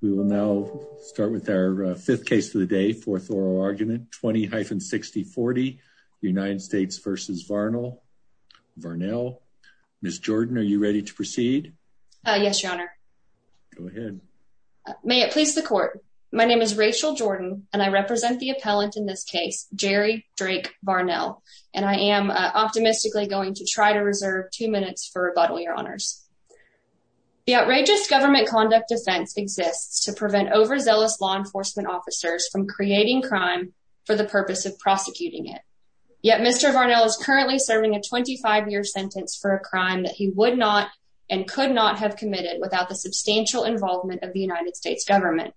We will now start with our 5th case of the day, 4th oral argument, 20-60-40, United States v. Varnell. Ms. Jordan, are you ready to proceed? Yes, your honor. Go ahead. May it please the court, my name is Rachel Jordan and I represent the appellant in this case, Jerry Drake Varnell. And I am optimistically going to try to reserve two minutes for rebuttal, your honors. The outrageous government conduct offense exists to prevent overzealous law enforcement officers from creating crime for the purpose of prosecuting it. Yet Mr. Varnell is currently serving a 25-year sentence for a crime that he would not and could not have committed without the substantial involvement of the United States government.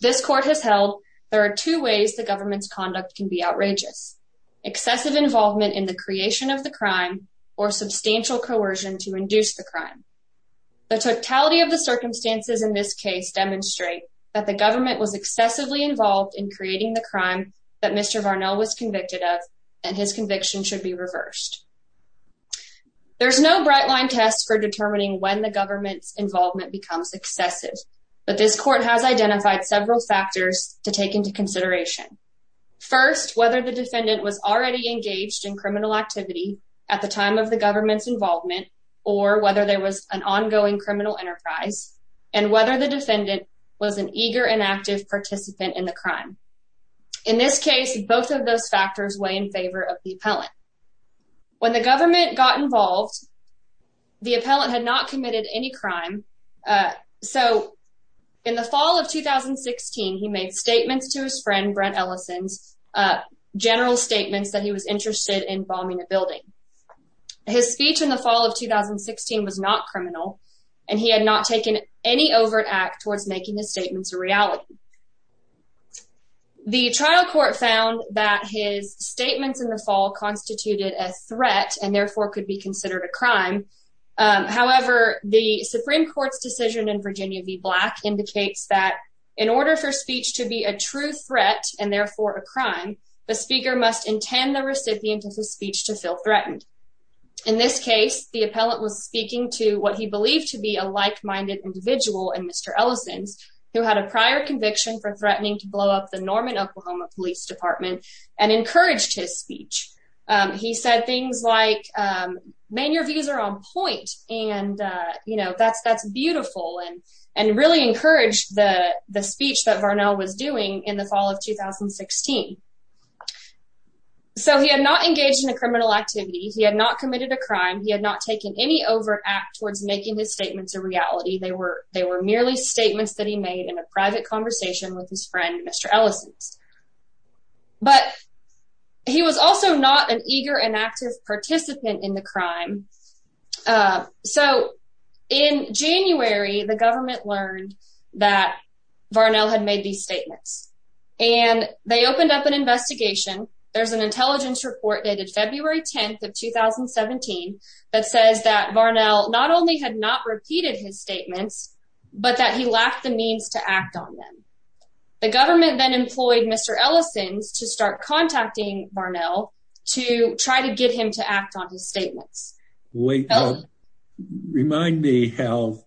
This court has held there are two ways the government's conduct can be outrageous, excessive involvement in the creation of the crime or substantial coercion to induce the crime. The totality of the circumstances in this case demonstrate that the government was excessively involved in creating the crime that Mr. Varnell was convicted of and his conviction should be reversed. There's no bright line test for determining when the government's involvement becomes excessive, but this court has identified several factors to take into consideration. First, whether the defendant was already engaged in criminal activity at the time of the government's involvement or whether there was an ongoing criminal enterprise and whether the defendant was an eager and active participant in the crime. In this case, both of those factors weigh in favor of the appellant. When the government got involved, the appellant had not committed any crime. So, in the fall of 2016, he made statements to his friend Brent Ellison, general statements that he was interested in bombing a building. His speech in the fall of 2016 was not criminal and he had not taken any overt act towards making his statements a reality. The trial court found that his statements in the fall constituted a threat and therefore could be considered a crime. However, the Supreme Court's decision in Virginia v. Black indicates that in order for speech to be a true threat and therefore a crime, the speaker must intend the recipient of his speech to feel threatened. In this case, the appellant was speaking to what he believed to be a like-minded individual in Mr. Ellison's who had a prior conviction for threatening to blow up the Norman, Oklahoma Police Department and encouraged his speech. He said things like, man, your views are on point and, you know, that's beautiful and really encouraged the speech that Varnell was doing in the fall of 2016. So, he had not engaged in a criminal activity, he had not committed a crime, he had not taken any overt act towards making his statements a reality, they were merely statements that he made in a private conversation with his friend, Mr. Ellison. But he was also not an eager and active participant in the crime. So, in January, the government learned that Varnell had made these statements and they opened up an investigation. There's an intelligence report dated February 10th of 2017 that says that Varnell not only had not repeated his statements, but that he lacked the means to act on them. The government then employed Mr. Ellison's to start contacting Varnell to try to get him to act on his statements. Wait, remind me how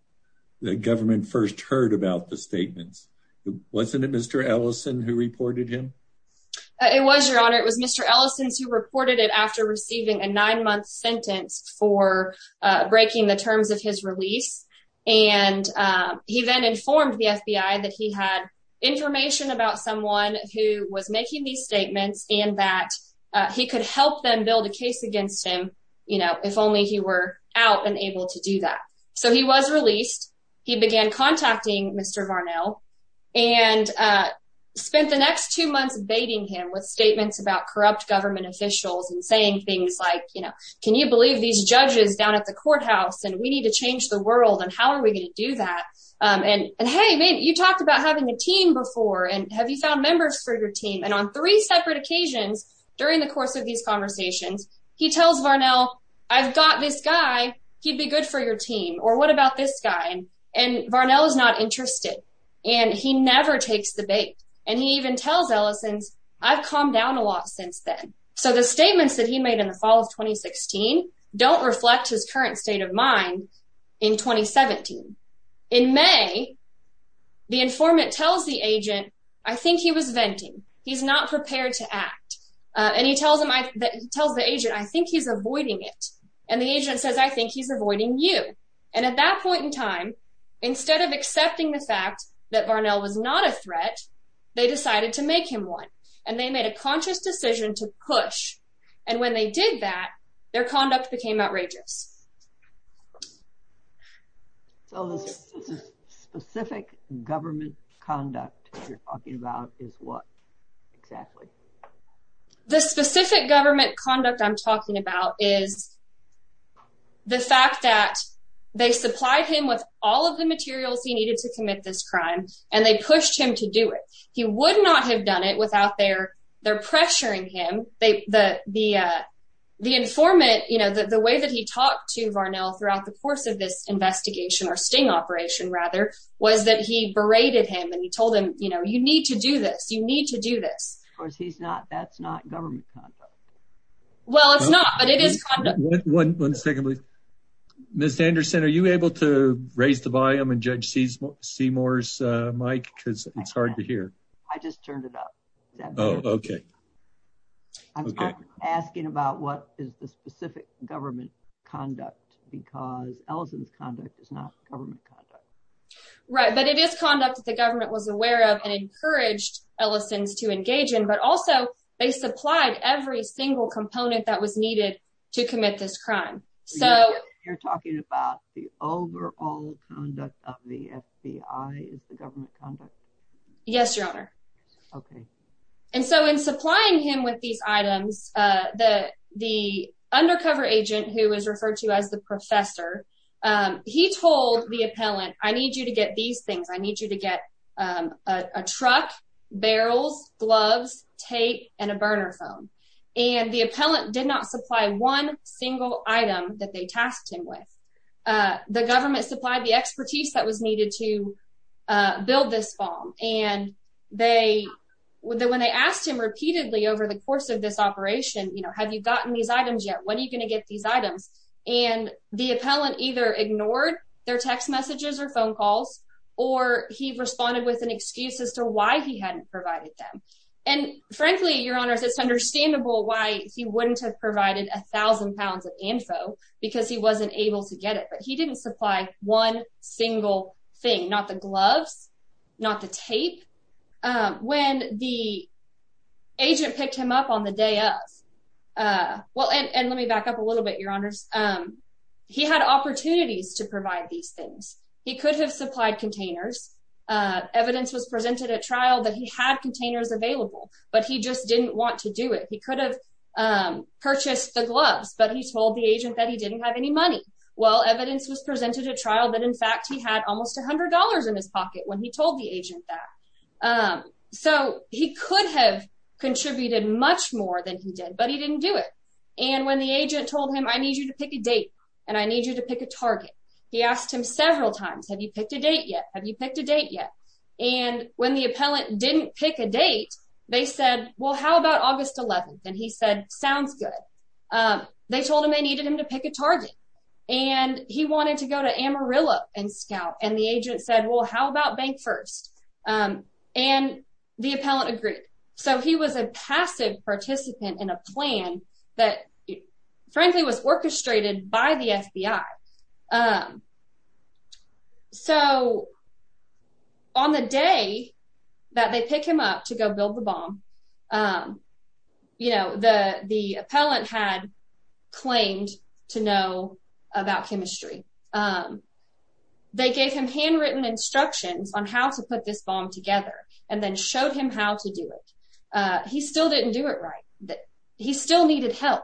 the government first heard about the statements. Wasn't it Mr. Ellison who reported him? It was, Your Honor. It was Mr. Ellison's who reported it after receiving a nine-month sentence for breaking the terms of his release. And he then informed the FBI that he had information about someone who was making these statements and that he could help them build a case against him, you know, if only he were out and able to do that. So, he was released. He began contacting Mr. Varnell and spent the next two months baiting him with statements about corrupt government officials and saying things like, you know, can you believe these we need to change the world and how are we going to do that? And hey, man, you talked about having a team before and have you found members for your team? And on three separate occasions during the course of these conversations, he tells Varnell, I've got this guy, he'd be good for your team. Or what about this guy? And Varnell is not interested and he never takes the bait. And he even tells Ellison's, I've calmed down a lot since then. So, the statements that he made in the fall of 2016 don't reflect his current state of mind in 2017. In May, the informant tells the agent, I think he was venting. He's not prepared to act. And he tells the agent, I think he's avoiding it. And the agent says, I think he's avoiding you. And at that point in time, instead of accepting the fact that Varnell was not a threat, they decided to make him one. And they made a conscious decision to push. And when they did that, their conduct became outrageous. So, the specific government conduct you're talking about is what exactly? The specific government conduct I'm talking about is the fact that they supplied him with all of the materials he needed to commit this crime and they pushed him to do it. He would not have done it without their pressuring him. The informant, the way that he talked to Varnell throughout the course of this investigation or sting operation, rather, was that he berated him and he told him, you need to do this. You need to do this. Of course, he's not. That's not government conduct. Well, it's not. But it is conduct. One second, please. Ms. Anderson, are you able to raise the volume in Judge Seymour's mic? Because it's hard to hear. I just turned it up. Oh, okay. I was asking about what is the specific government conduct because Ellison's conduct is not government conduct. Right. But it is conduct that the government was aware of and encouraged Ellison's to engage in. But also, they supplied every single component that was needed to commit this crime. You're talking about the overall conduct of the FBI is the government conduct? Yes, Your Honor. Okay. And so, in supplying him with these items, the undercover agent who was referred to as the professor, he told the appellant, I need you to get these things. I need you to get a truck, barrels, gloves, tape, and a burner phone. And the appellant did not supply one single item that they tasked him with. The government supplied the expertise that was needed to build this bomb. And when they asked him repeatedly over the course of this operation, have you gotten these items yet? When are you going to get these items? And the appellant either ignored their text messages or phone calls, or he responded with an excuse as to why he hadn't provided them. And frankly, Your Honor, it's understandable why he wouldn't have provided a thousand pounds of info because he wasn't able to get it. But he didn't supply one single thing, not the gloves, not the tape. When the agent picked him up on the day of, and let me back up a little bit, Your Honor, he had opportunities to provide these things. He could have supplied containers, evidence was presented at trial that he had containers available, but he just didn't want to do it. He could have purchased the gloves, but he told the agent that he didn't have any money. Well, evidence was presented at trial that, in fact, he had almost $100 in his pocket when he told the agent that. So he could have contributed much more than he did, but he didn't do it. And when the agent told him, I need you to pick a date, and I need you to pick a target, he asked him several times, have you picked a date yet, have you picked a date yet? And when the appellant didn't pick a date, they said, well, how about August 11th? And he said, sounds good. They told him they needed him to pick a target. And he wanted to go to Amarillo and scout, and the agent said, well, how about Bank First? And the appellant agreed. So he was a passive participant in a plan that, frankly, was orchestrated by the FBI. So on the day that they pick him up to go build the bomb, you know, the appellant had claimed to know about chemistry. They gave him handwritten instructions on how to put this bomb together and then showed him how to do it. He still didn't do it right. He still needed help.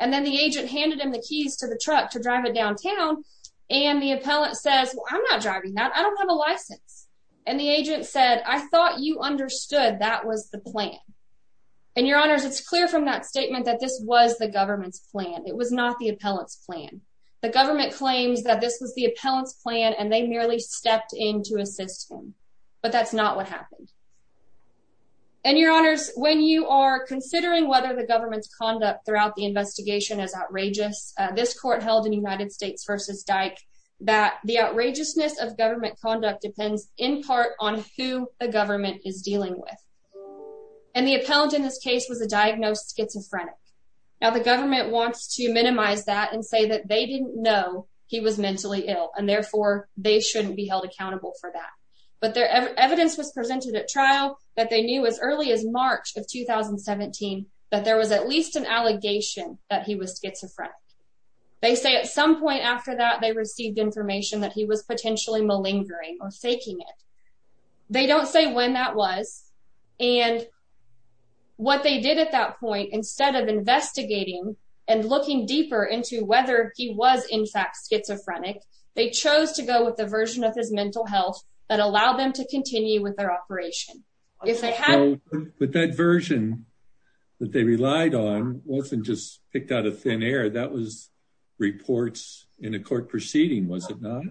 And then the agent handed him the keys to the truck to drive it downtown, and the appellant says, well, I'm not driving that. I don't have a license. And the agent said, I thought you understood that was the plan. And, Your Honors, it's clear from that statement that this was the government's plan. It was not the appellant's plan. The government claims that this was the appellant's plan, and they merely stepped in to assist him. But that's not what happened. And, Your Honors, when you are considering whether the government's conduct throughout the investigation is outrageous, this court held in United States v. Dyke that the outrageousness of government conduct depends in part on who the government is dealing with. And the appellant in this case was a diagnosed schizophrenic. Now, the government wants to minimize that and say that they didn't know he was mentally ill, and therefore they shouldn't be held accountable for that. But evidence was presented at trial that they knew as early as March of 2017 that there was at least an allegation that he was schizophrenic. They say at some point after that, they received information that he was potentially malingering or faking it. They don't say when that was. And what they did at that point, instead of investigating and looking deeper into whether he was, in fact, schizophrenic, they chose to go with the version of his mental health that allowed them to continue with their operation. But that version that they relied on wasn't just picked out of thin air. That was reports in a court proceeding, was it not?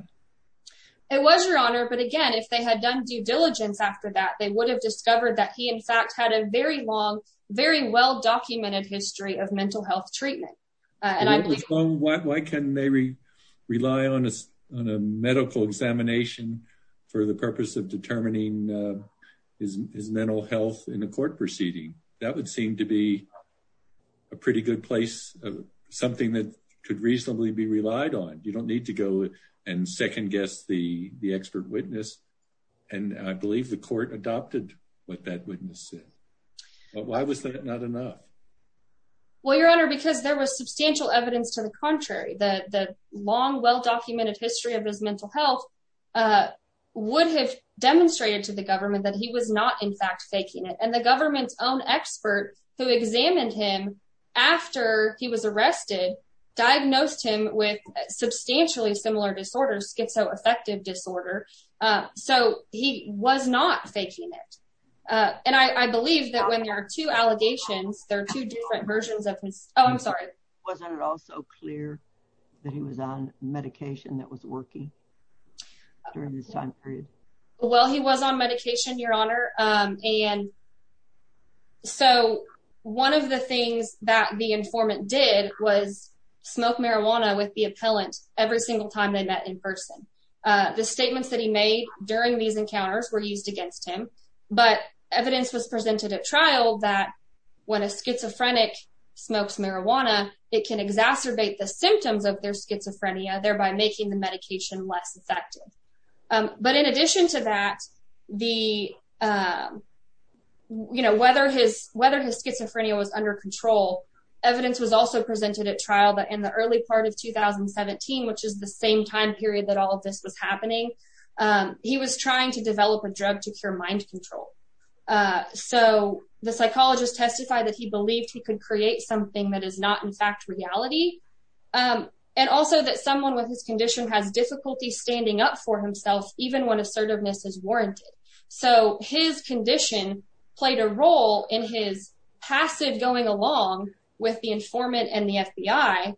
It was, Your Honor, but again, if they had done due diligence after that, they would have discovered that he, in fact, had a very long, very well-documented history of mental health treatment. And I believe... Why can't they rely on a medical examination for the purpose of determining his mental health in a court proceeding? That would seem to be a pretty good place, something that could reasonably be relied on. You don't need to go and second-guess the expert witness. And I believe the court adopted what that witness said. But why was that not enough? The long, well-documented history of his mental health would have demonstrated to the government that he was not, in fact, faking it. And the government's own expert who examined him after he was arrested diagnosed him with substantially similar disorders, schizoaffective disorder. So he was not faking it. And I believe that when there are two allegations, there are two different versions of his... Oh, I'm sorry. Wasn't it also clear that he was on medication that was working during this time period? Well, he was on medication, Your Honor. And so one of the things that the informant did was smoke marijuana with the appellant every single time they met in person. The statements that he made during these encounters were used against him. But evidence was presented at trial that when a schizophrenic smokes marijuana, it can exacerbate the symptoms of their schizophrenia, thereby making the medication less effective. But in addition to that, the, you know, whether his schizophrenia was under control, evidence was also presented at trial that in the early part of 2017, which is the same time period that all of this was happening, he was trying to develop a drug to cure mind control. So the psychologist testified that he believed he could create something that is not in fact reality. And also that someone with his condition has difficulty standing up for himself, even when assertiveness is warranted. So his condition played a role in his passive going along with the informant and the FBI.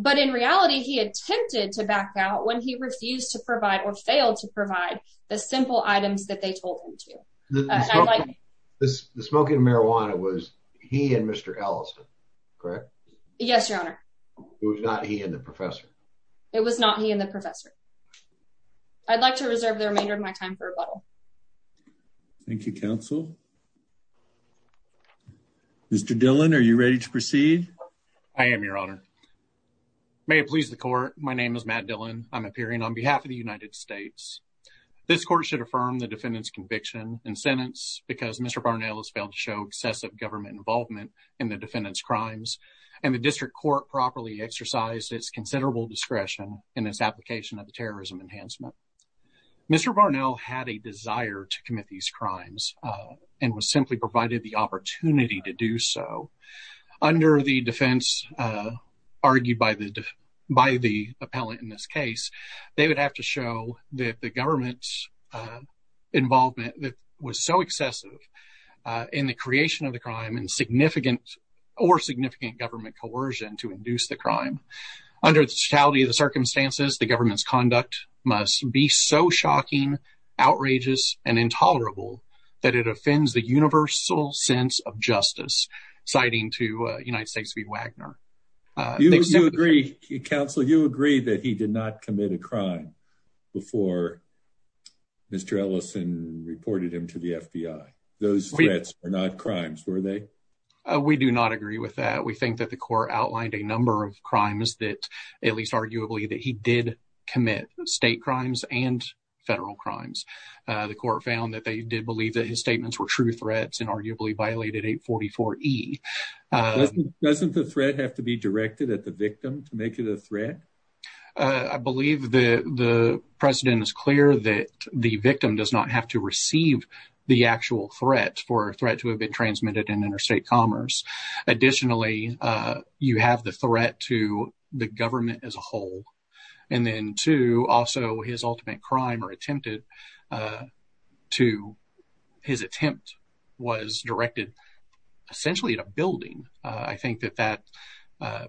But in reality, he attempted to back out when he refused to provide or failed to provide the simple items that they told him to. And I'd like- The smoking of marijuana was he and Mr. Ellison, correct? Yes, Your Honor. It was not he and the professor. It was not he and the professor. I'd like to reserve the remainder of my time for rebuttal. Thank you, counsel. Mr. Dillon, are you ready to proceed? I am, Your Honor. May it please the court. My name is Matt Dillon. I'm appearing on behalf of the United States. This court should affirm the defendant's conviction and sentence because Mr. Barnell has failed to show excessive government involvement in the defendant's crimes. And the district court properly exercised its considerable discretion in its application of the terrorism enhancement. Mr. Barnell had a desire to commit these crimes and was simply provided the opportunity to do so. Under the defense argued by the appellant in this case, they would have to show that the government's involvement was so excessive in the creation of the crime and significant or significant government coercion to induce the crime. Under the totality of the circumstances, the government's conduct must be so shocking, outrageous, and intolerable that it offends the universal sense of justice. Citing to United States v. Wagner. You agree, counsel, you agree that he did not commit a crime before Mr. Ellison reported him to the FBI. Those threats were not crimes, were they? We do not agree with that. We think that the court outlined a number of crimes that, at least arguably, that he did commit state crimes and federal crimes. The court found that they did believe that his statements were true threats and arguably violated 844E. Doesn't the threat have to be directed at the victim to make it a threat? I believe the precedent is clear that the victim does not have to receive the actual threat for a threat to have been transmitted in interstate commerce. Additionally, you have the threat to the government as a whole. And then two, also his ultimate crime or attempted to his attempt was directed essentially at a building. I think that that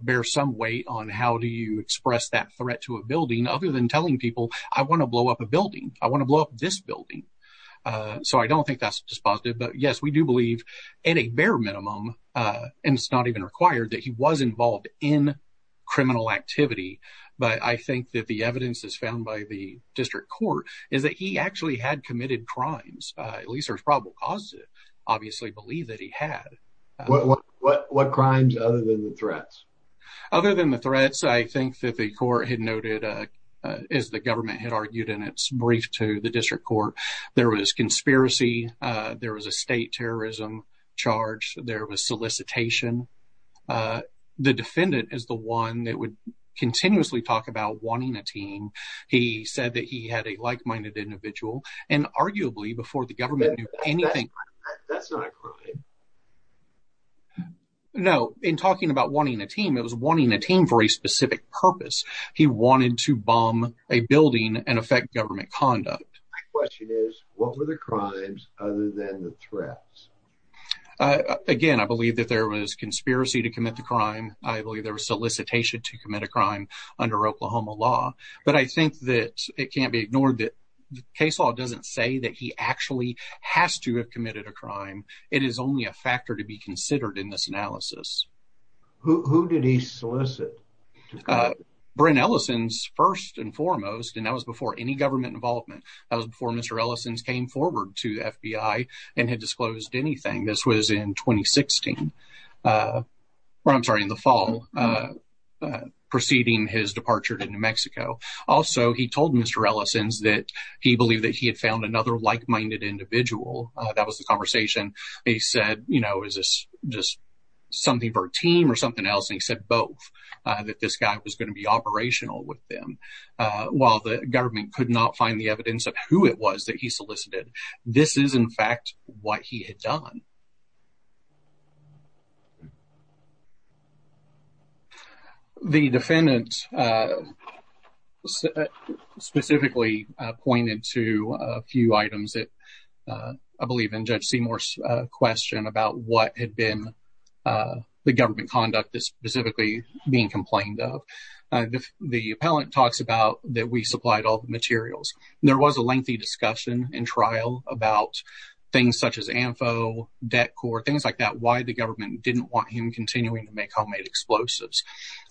bears some weight on how do you express that threat to a building other than telling people, I want to blow up a building. I want to blow up this building. So I don't think that's dispositive. But yes, we do believe in a bare minimum, and it's not even required that he was involved in criminal activity. But I think that the evidence is found by the district court is that he actually had committed crimes, at least there's probable causes, obviously believe that he had. What crimes other than the threats? Other than the threats, I think that the court had noted, as the government had argued in its brief to the district court, there was conspiracy. There was a state terrorism charge. There was solicitation. The defendant is the one that would continuously talk about wanting a team. He said that he had a like-minded individual, and arguably before the government knew anything. That's not a crime. No, in talking about wanting a team, it was wanting a team for a specific purpose. He wanted to bomb a building and affect government conduct. My question is, what were the crimes other than the threats? Again, I believe that there was conspiracy to commit the crime. I believe there was solicitation to commit a crime under Oklahoma law. But I think that it can't be ignored that case law doesn't say that he actually has to have committed a crime. It is only a factor to be considered in this analysis. Who did he solicit? Brent Ellison's first and foremost, and that was before any government involvement. That was before Mr. Ellison's came forward to the FBI and had disclosed anything. This was in 2016. Or I'm sorry, in the fall, preceding his departure to New Mexico. Also, he told Mr. Ellison's that he believed that he had found another like-minded individual. That was the conversation. He said, you know, is this just something for a team or something else? And he said both, that this guy was going to be operational with them. While the government could not find the evidence of who it was that he solicited, this is in fact what he had done. The defendant specifically pointed to a few items that I believe in Judge Seymour's question about what had been the government conduct that's specifically being complained of. The appellant talks about that we supplied all the materials. There was a lengthy discussion in trial about things such as info, debt core, things like that. Why the government didn't want him continuing to make homemade explosives.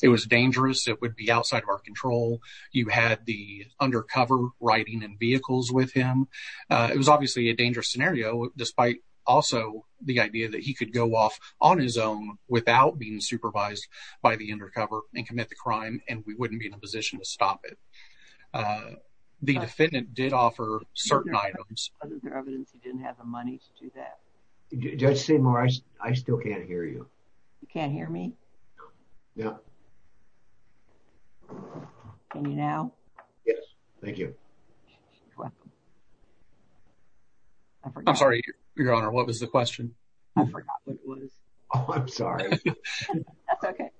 It was dangerous. It would be outside of our control. You had the undercover riding in vehicles with him. It was obviously a dangerous scenario despite also the idea that he could go off on his own without being supervised by the undercover and commit the crime and we wouldn't be in a position to stop it. The defendant did offer certain items. Is there evidence he didn't have the money to do that? Judge Seymour, I still can't hear you. You can't hear me? No. Can you now? Yes. Thank you. I'm sorry, Your Honor. What was the question? I forgot what it was. Oh, I'm sorry. That's okay.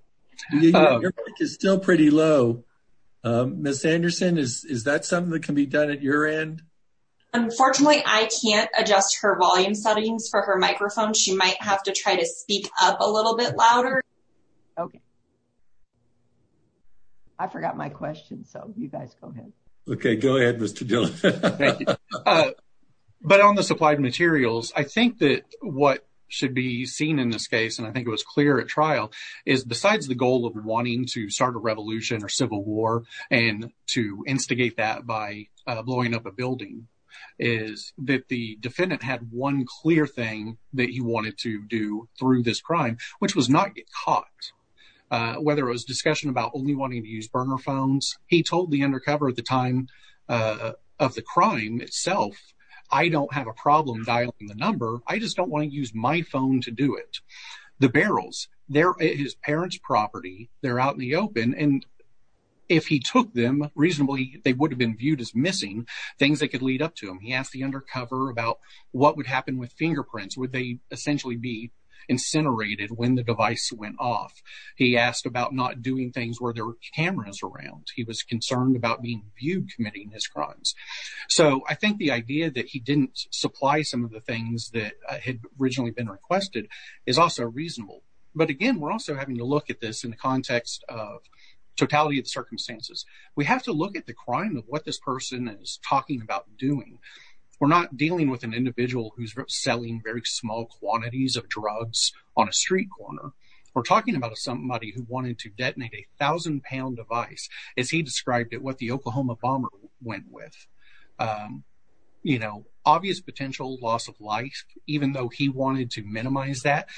Your pitch is still pretty low. Ms. Anderson, is that something that can be done at your end? Unfortunately, I can't adjust her volume settings for her microphone. She might have to try to speak up a little bit louder. Okay. I forgot my question, so you guys go ahead. Okay, go ahead, Mr. Dillon. But on the supplied materials, I think that what should be seen in this case, and I think it was clear at trial, is besides the goal of wanting to start a revolution or civil war and to instigate that by blowing up a building, is that the defendant had one clear thing that he wanted to do through this crime, which was not get caught. Whether it was discussion about only wanting to use burner phones, he told the undercover at the time of the crime itself, I don't have a problem dialing the number. I just don't want to use my phone to do it. The barrels, they're at his parents' property. They're out in the open. And if he took them reasonably, they would have been viewed as missing things that could lead up to him. He asked the undercover about what would happen with fingerprints. Would they essentially be incinerated when the device went off? He asked about not doing things where there were cameras around. He was concerned about being viewed committing his crimes. So I think the idea that he didn't supply some of the things that had originally been requested is also reasonable. But again, we're also having to look at this in the context of totality of the circumstances. We have to look at the crime of what this person is talking about doing. We're not dealing with an individual who's selling very small quantities of drugs on a street corner. We're talking about somebody who wanted to detonate a thousand pound device as he described it, what the Oklahoma bomber went with. You know, obvious potential loss of life, even though he wanted to minimize that.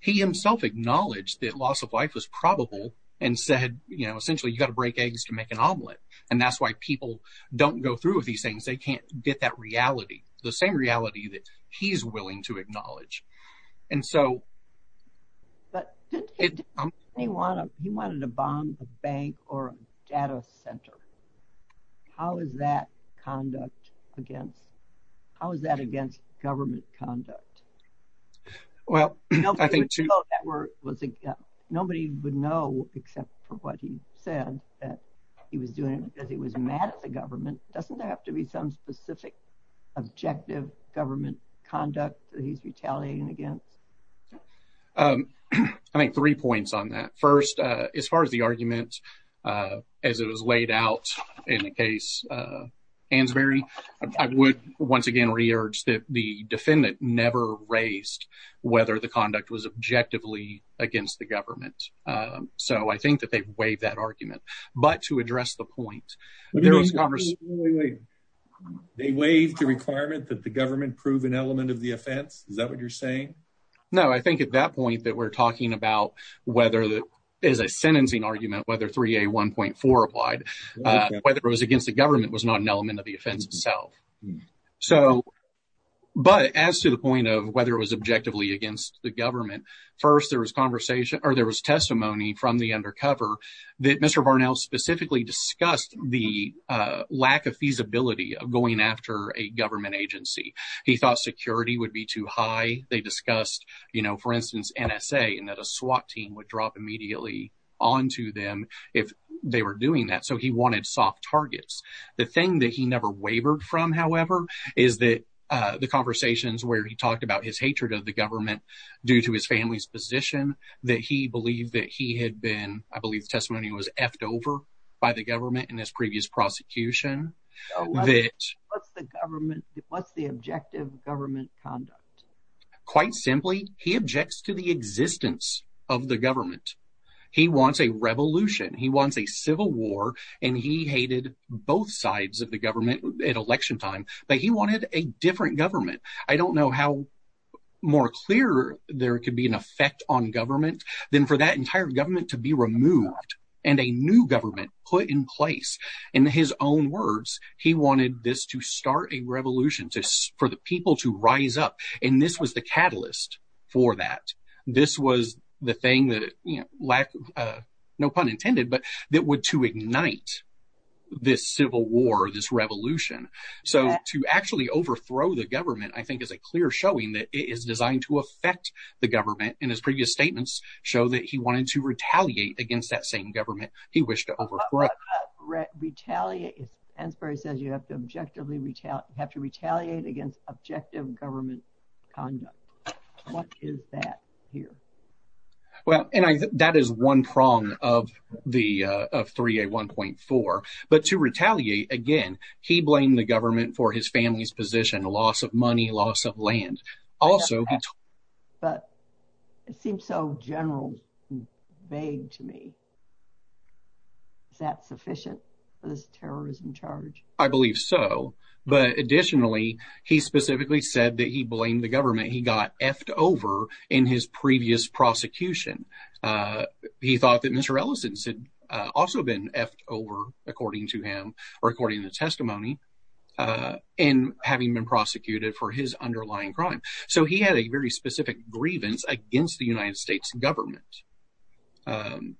He himself acknowledged that loss of life was probable and said, you know, essentially, you got to break eggs to make an omelet. And that's why people don't go through with these things. They can't get that reality, the same reality that he's willing to acknowledge. And so. But he wanted to bomb a bank or a data center. How is that conduct against, how is that against government conduct? Well, I think nobody would know except for what he said that he was doing because he was mad at the government. Doesn't there have to be some specific objective government conduct that he's retaliating against? I think three points on that. First, as far as the argument, as it was laid out in the case, Hansberry, I would once again, re-urge that the defendant never raised whether the conduct was objectively against the government. So I think that they've waived that argument. But to address the point. They waived the requirement that the government prove an element of the offense. Is that what you're saying? No, I think at that point that we're talking about, whether that is a sentencing argument, whether 3A1.4 applied, whether it was against the government was not an element of the offense itself. So, but as to the point of whether it was objectively against the government. First, there was conversation or there was testimony from the undercover that Mr. Barnell specifically discussed the lack of feasibility of going after a government agency. He thought security would be too high. They discussed, you know, for instance, NSA, and that a SWAT team would drop immediately onto them if they were doing that. So he wanted soft targets. The thing that he never wavered from, however, is that the conversations where he talked about his hatred of the government due to his family's position, that he believed that he had been, I believe the testimony was effed over by the government in his previous prosecution. What's the objective government conduct? Quite simply, he objects to the existence of the government. He wants a revolution. He wants a civil war, and he hated both sides of the government at election time, but he wanted a different government. I don't know how more clear there could be an effect on government than for that entire government to be removed and a new government put in place. In his own words, he wanted this to start a revolution for the people to rise up. And this was the catalyst for that. This was the thing that, no pun intended, but that would to ignite this civil war, this revolution. So to actually overthrow the government, I think is a clear showing that it is designed to affect the government. And his previous statements show that he wanted to retaliate against that same government he wished to overthrow. What about retaliate? Ansboury says you have to retaliate against objective government conduct. What is that here? Well, and that is one prong of 3A1.4. But to retaliate again, he blamed the government for his family's position, loss of money, loss of land. But it seems so general and vague to me. Is that sufficient for this terrorism charge? I believe so. But additionally, he specifically said that he blamed the government. He got effed over in his previous prosecution. He thought that Mr. Ellison had also been effed over, according to him, or according to the testimony, in having been prosecuted for his underlying crime. So he had a very specific grievance against the United States government. And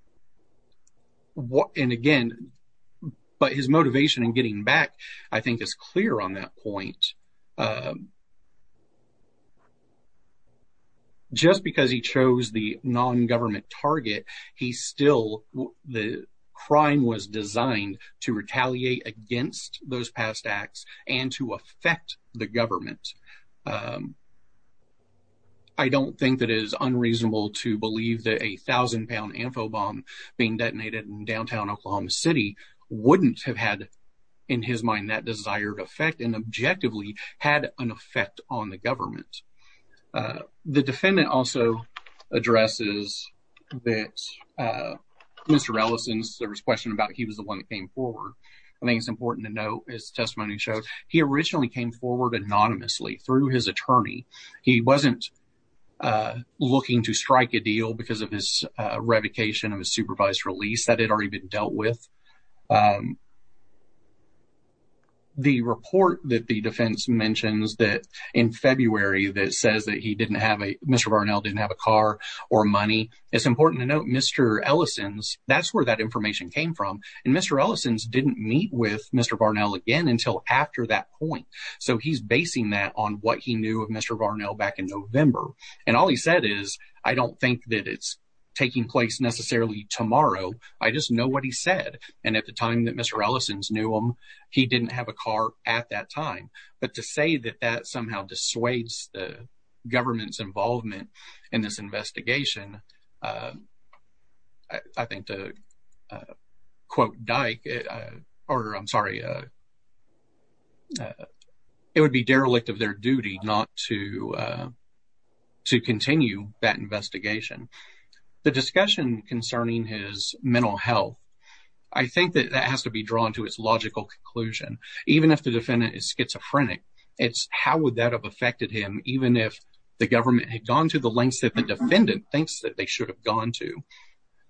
again, but his motivation in getting back, I think is clear on that point. But just because he chose the non-government target, he still, the crime was designed to retaliate against those past acts and to affect the government. I don't think that it is unreasonable to believe that a thousand-pound amphibomb being detonated in downtown Oklahoma City wouldn't have had, in his mind, that desired effect and objectively had an effect on the government. The defendant also addresses that Mr. Ellison's question about he was the one that came forward. I think it's important to note his testimony showed he originally came forward anonymously through his attorney. He wasn't looking to strike a deal because of his revocation of his supervised release that had already been dealt with. The report that the defense mentions that in February that says that Mr. Varnell didn't have a car or money, it's important to note Mr. Ellison's, that's where that information came from. And Mr. Ellison's didn't meet with Mr. Varnell again until after that point. So he's basing that on what he knew of Mr. Varnell back in November. And all he said is, I don't think that it's taking place necessarily tomorrow. I just know what he said. And at the time that Mr. Ellison's knew him, he didn't have a car at that time. But to say that that somehow dissuades the government's involvement in this investigation, I think to quote Dyke, or I'm sorry, it would be derelict of their duty not to continue that investigation. The discussion concerning his mental health, I think that that has to be drawn to its logical conclusion. Even if the defendant is schizophrenic, it's how would that have affected him, even if the government had gone to the lengths that the defendant thinks that they should have gone to.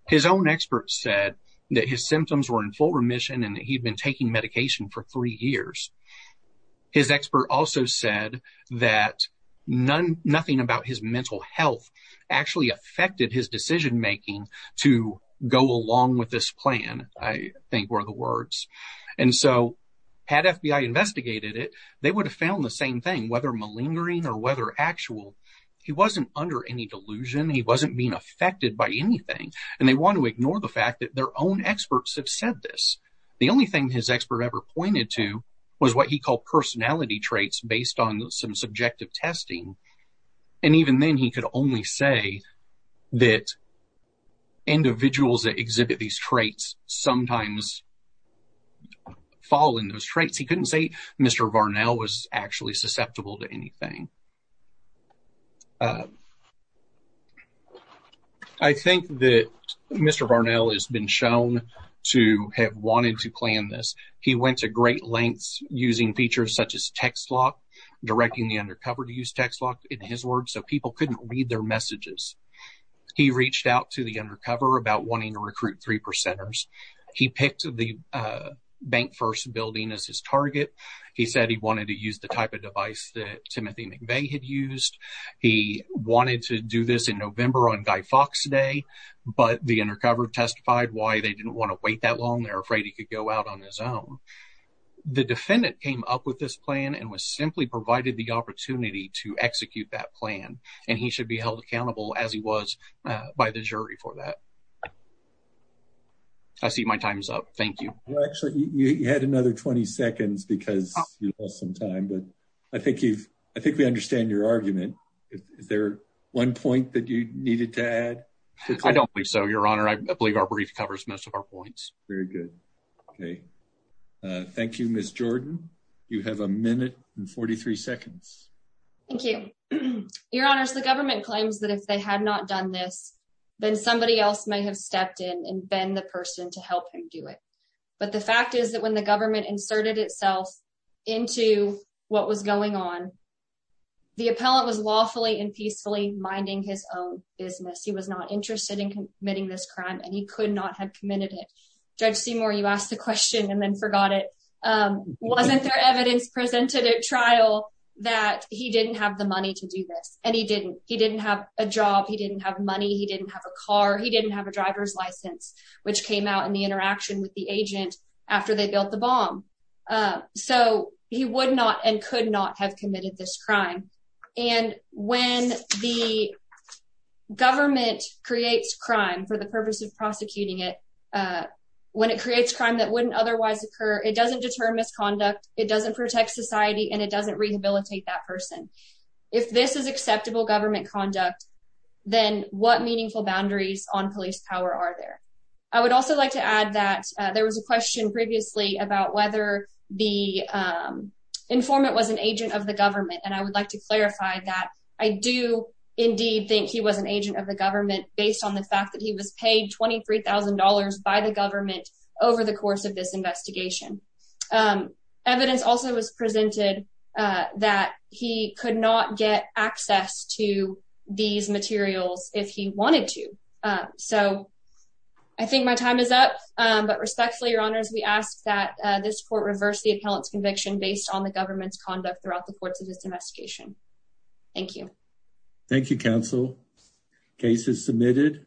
His own expert said that his symptoms were in full remission and that he'd been taking medication for three years. His expert also said that nothing about his mental health actually affected his decision-making to go along with this plan, I think were the words. And so had FBI investigated it, they would have found the same thing, whether malingering or whether actual. He wasn't under any delusion. He wasn't being affected by anything. And they want to ignore the fact that their own experts have said this. The only thing his expert ever pointed to was what he called personality traits based on some subjective testing. And even then he could only say that individuals that exhibit these traits sometimes fall in those traits. He couldn't say Mr. Varnell was actually susceptible to anything. I think that Mr. Varnell has been shown to have wanted to plan this. He went to great lengths using features such as text lock, directing the undercover to use text lock in his words so people couldn't read their messages. He reached out to the undercover about wanting to recruit three percenters. He picked the bank first building as his target. He said he wanted to use the type of device that Timothy McVeigh had used. He wanted to do this in November on Guy Fawkes Day, but the undercover testified why they didn't want to wait that long. They're afraid he could go out on his own. The defendant came up with this plan and was simply provided the opportunity to execute that plan. And he should be held accountable as he was by the jury for that. I see my time's up. Thank you. Actually, you had another 20 seconds because you lost some time, but I think we understand your argument. Is there one point that you needed to add? I don't believe so, your honor. I believe our brief covers most of our points. Very good. Thank you, Ms. Jordan. You have a minute and 43 seconds. Thank you. Your honors, the government claims that if they had not done this, then somebody else may have stepped in and been the person to help him do it. But the fact is that when the government inserted itself into what was going on, the appellant was lawfully and peacefully minding his own business. He was not interested in committing this crime and he could not have committed it. Judge Seymour, you asked the question and then forgot it. Wasn't there evidence presented at trial that he didn't have the money to do this? And he didn't. He didn't have a job. He didn't have money. He didn't have a car. He didn't have a driver's license, which came out in the interaction with the agent after they built the bomb. So he would not and could not have committed this crime. And when the government creates crime for the purpose of prosecuting it, when it creates crime that wouldn't otherwise occur, it doesn't deter misconduct. It doesn't protect society and it doesn't rehabilitate that person. If this is acceptable government conduct, then what meaningful boundaries on police power are there? I would also like to add that there was a question previously about whether the informant was an agent of the government. And I would like to clarify that I do indeed think he was an agent of the government based on the fact that he was paid $23,000 by the government over the course of this investigation. And evidence also was presented that he could not get access to these materials if he wanted to. So I think my time is up. But respectfully, Your Honors, we ask that this court reverse the appellant's conviction based on the government's conduct throughout the course of this investigation. Thank you. Thank you, counsel. Case is submitted.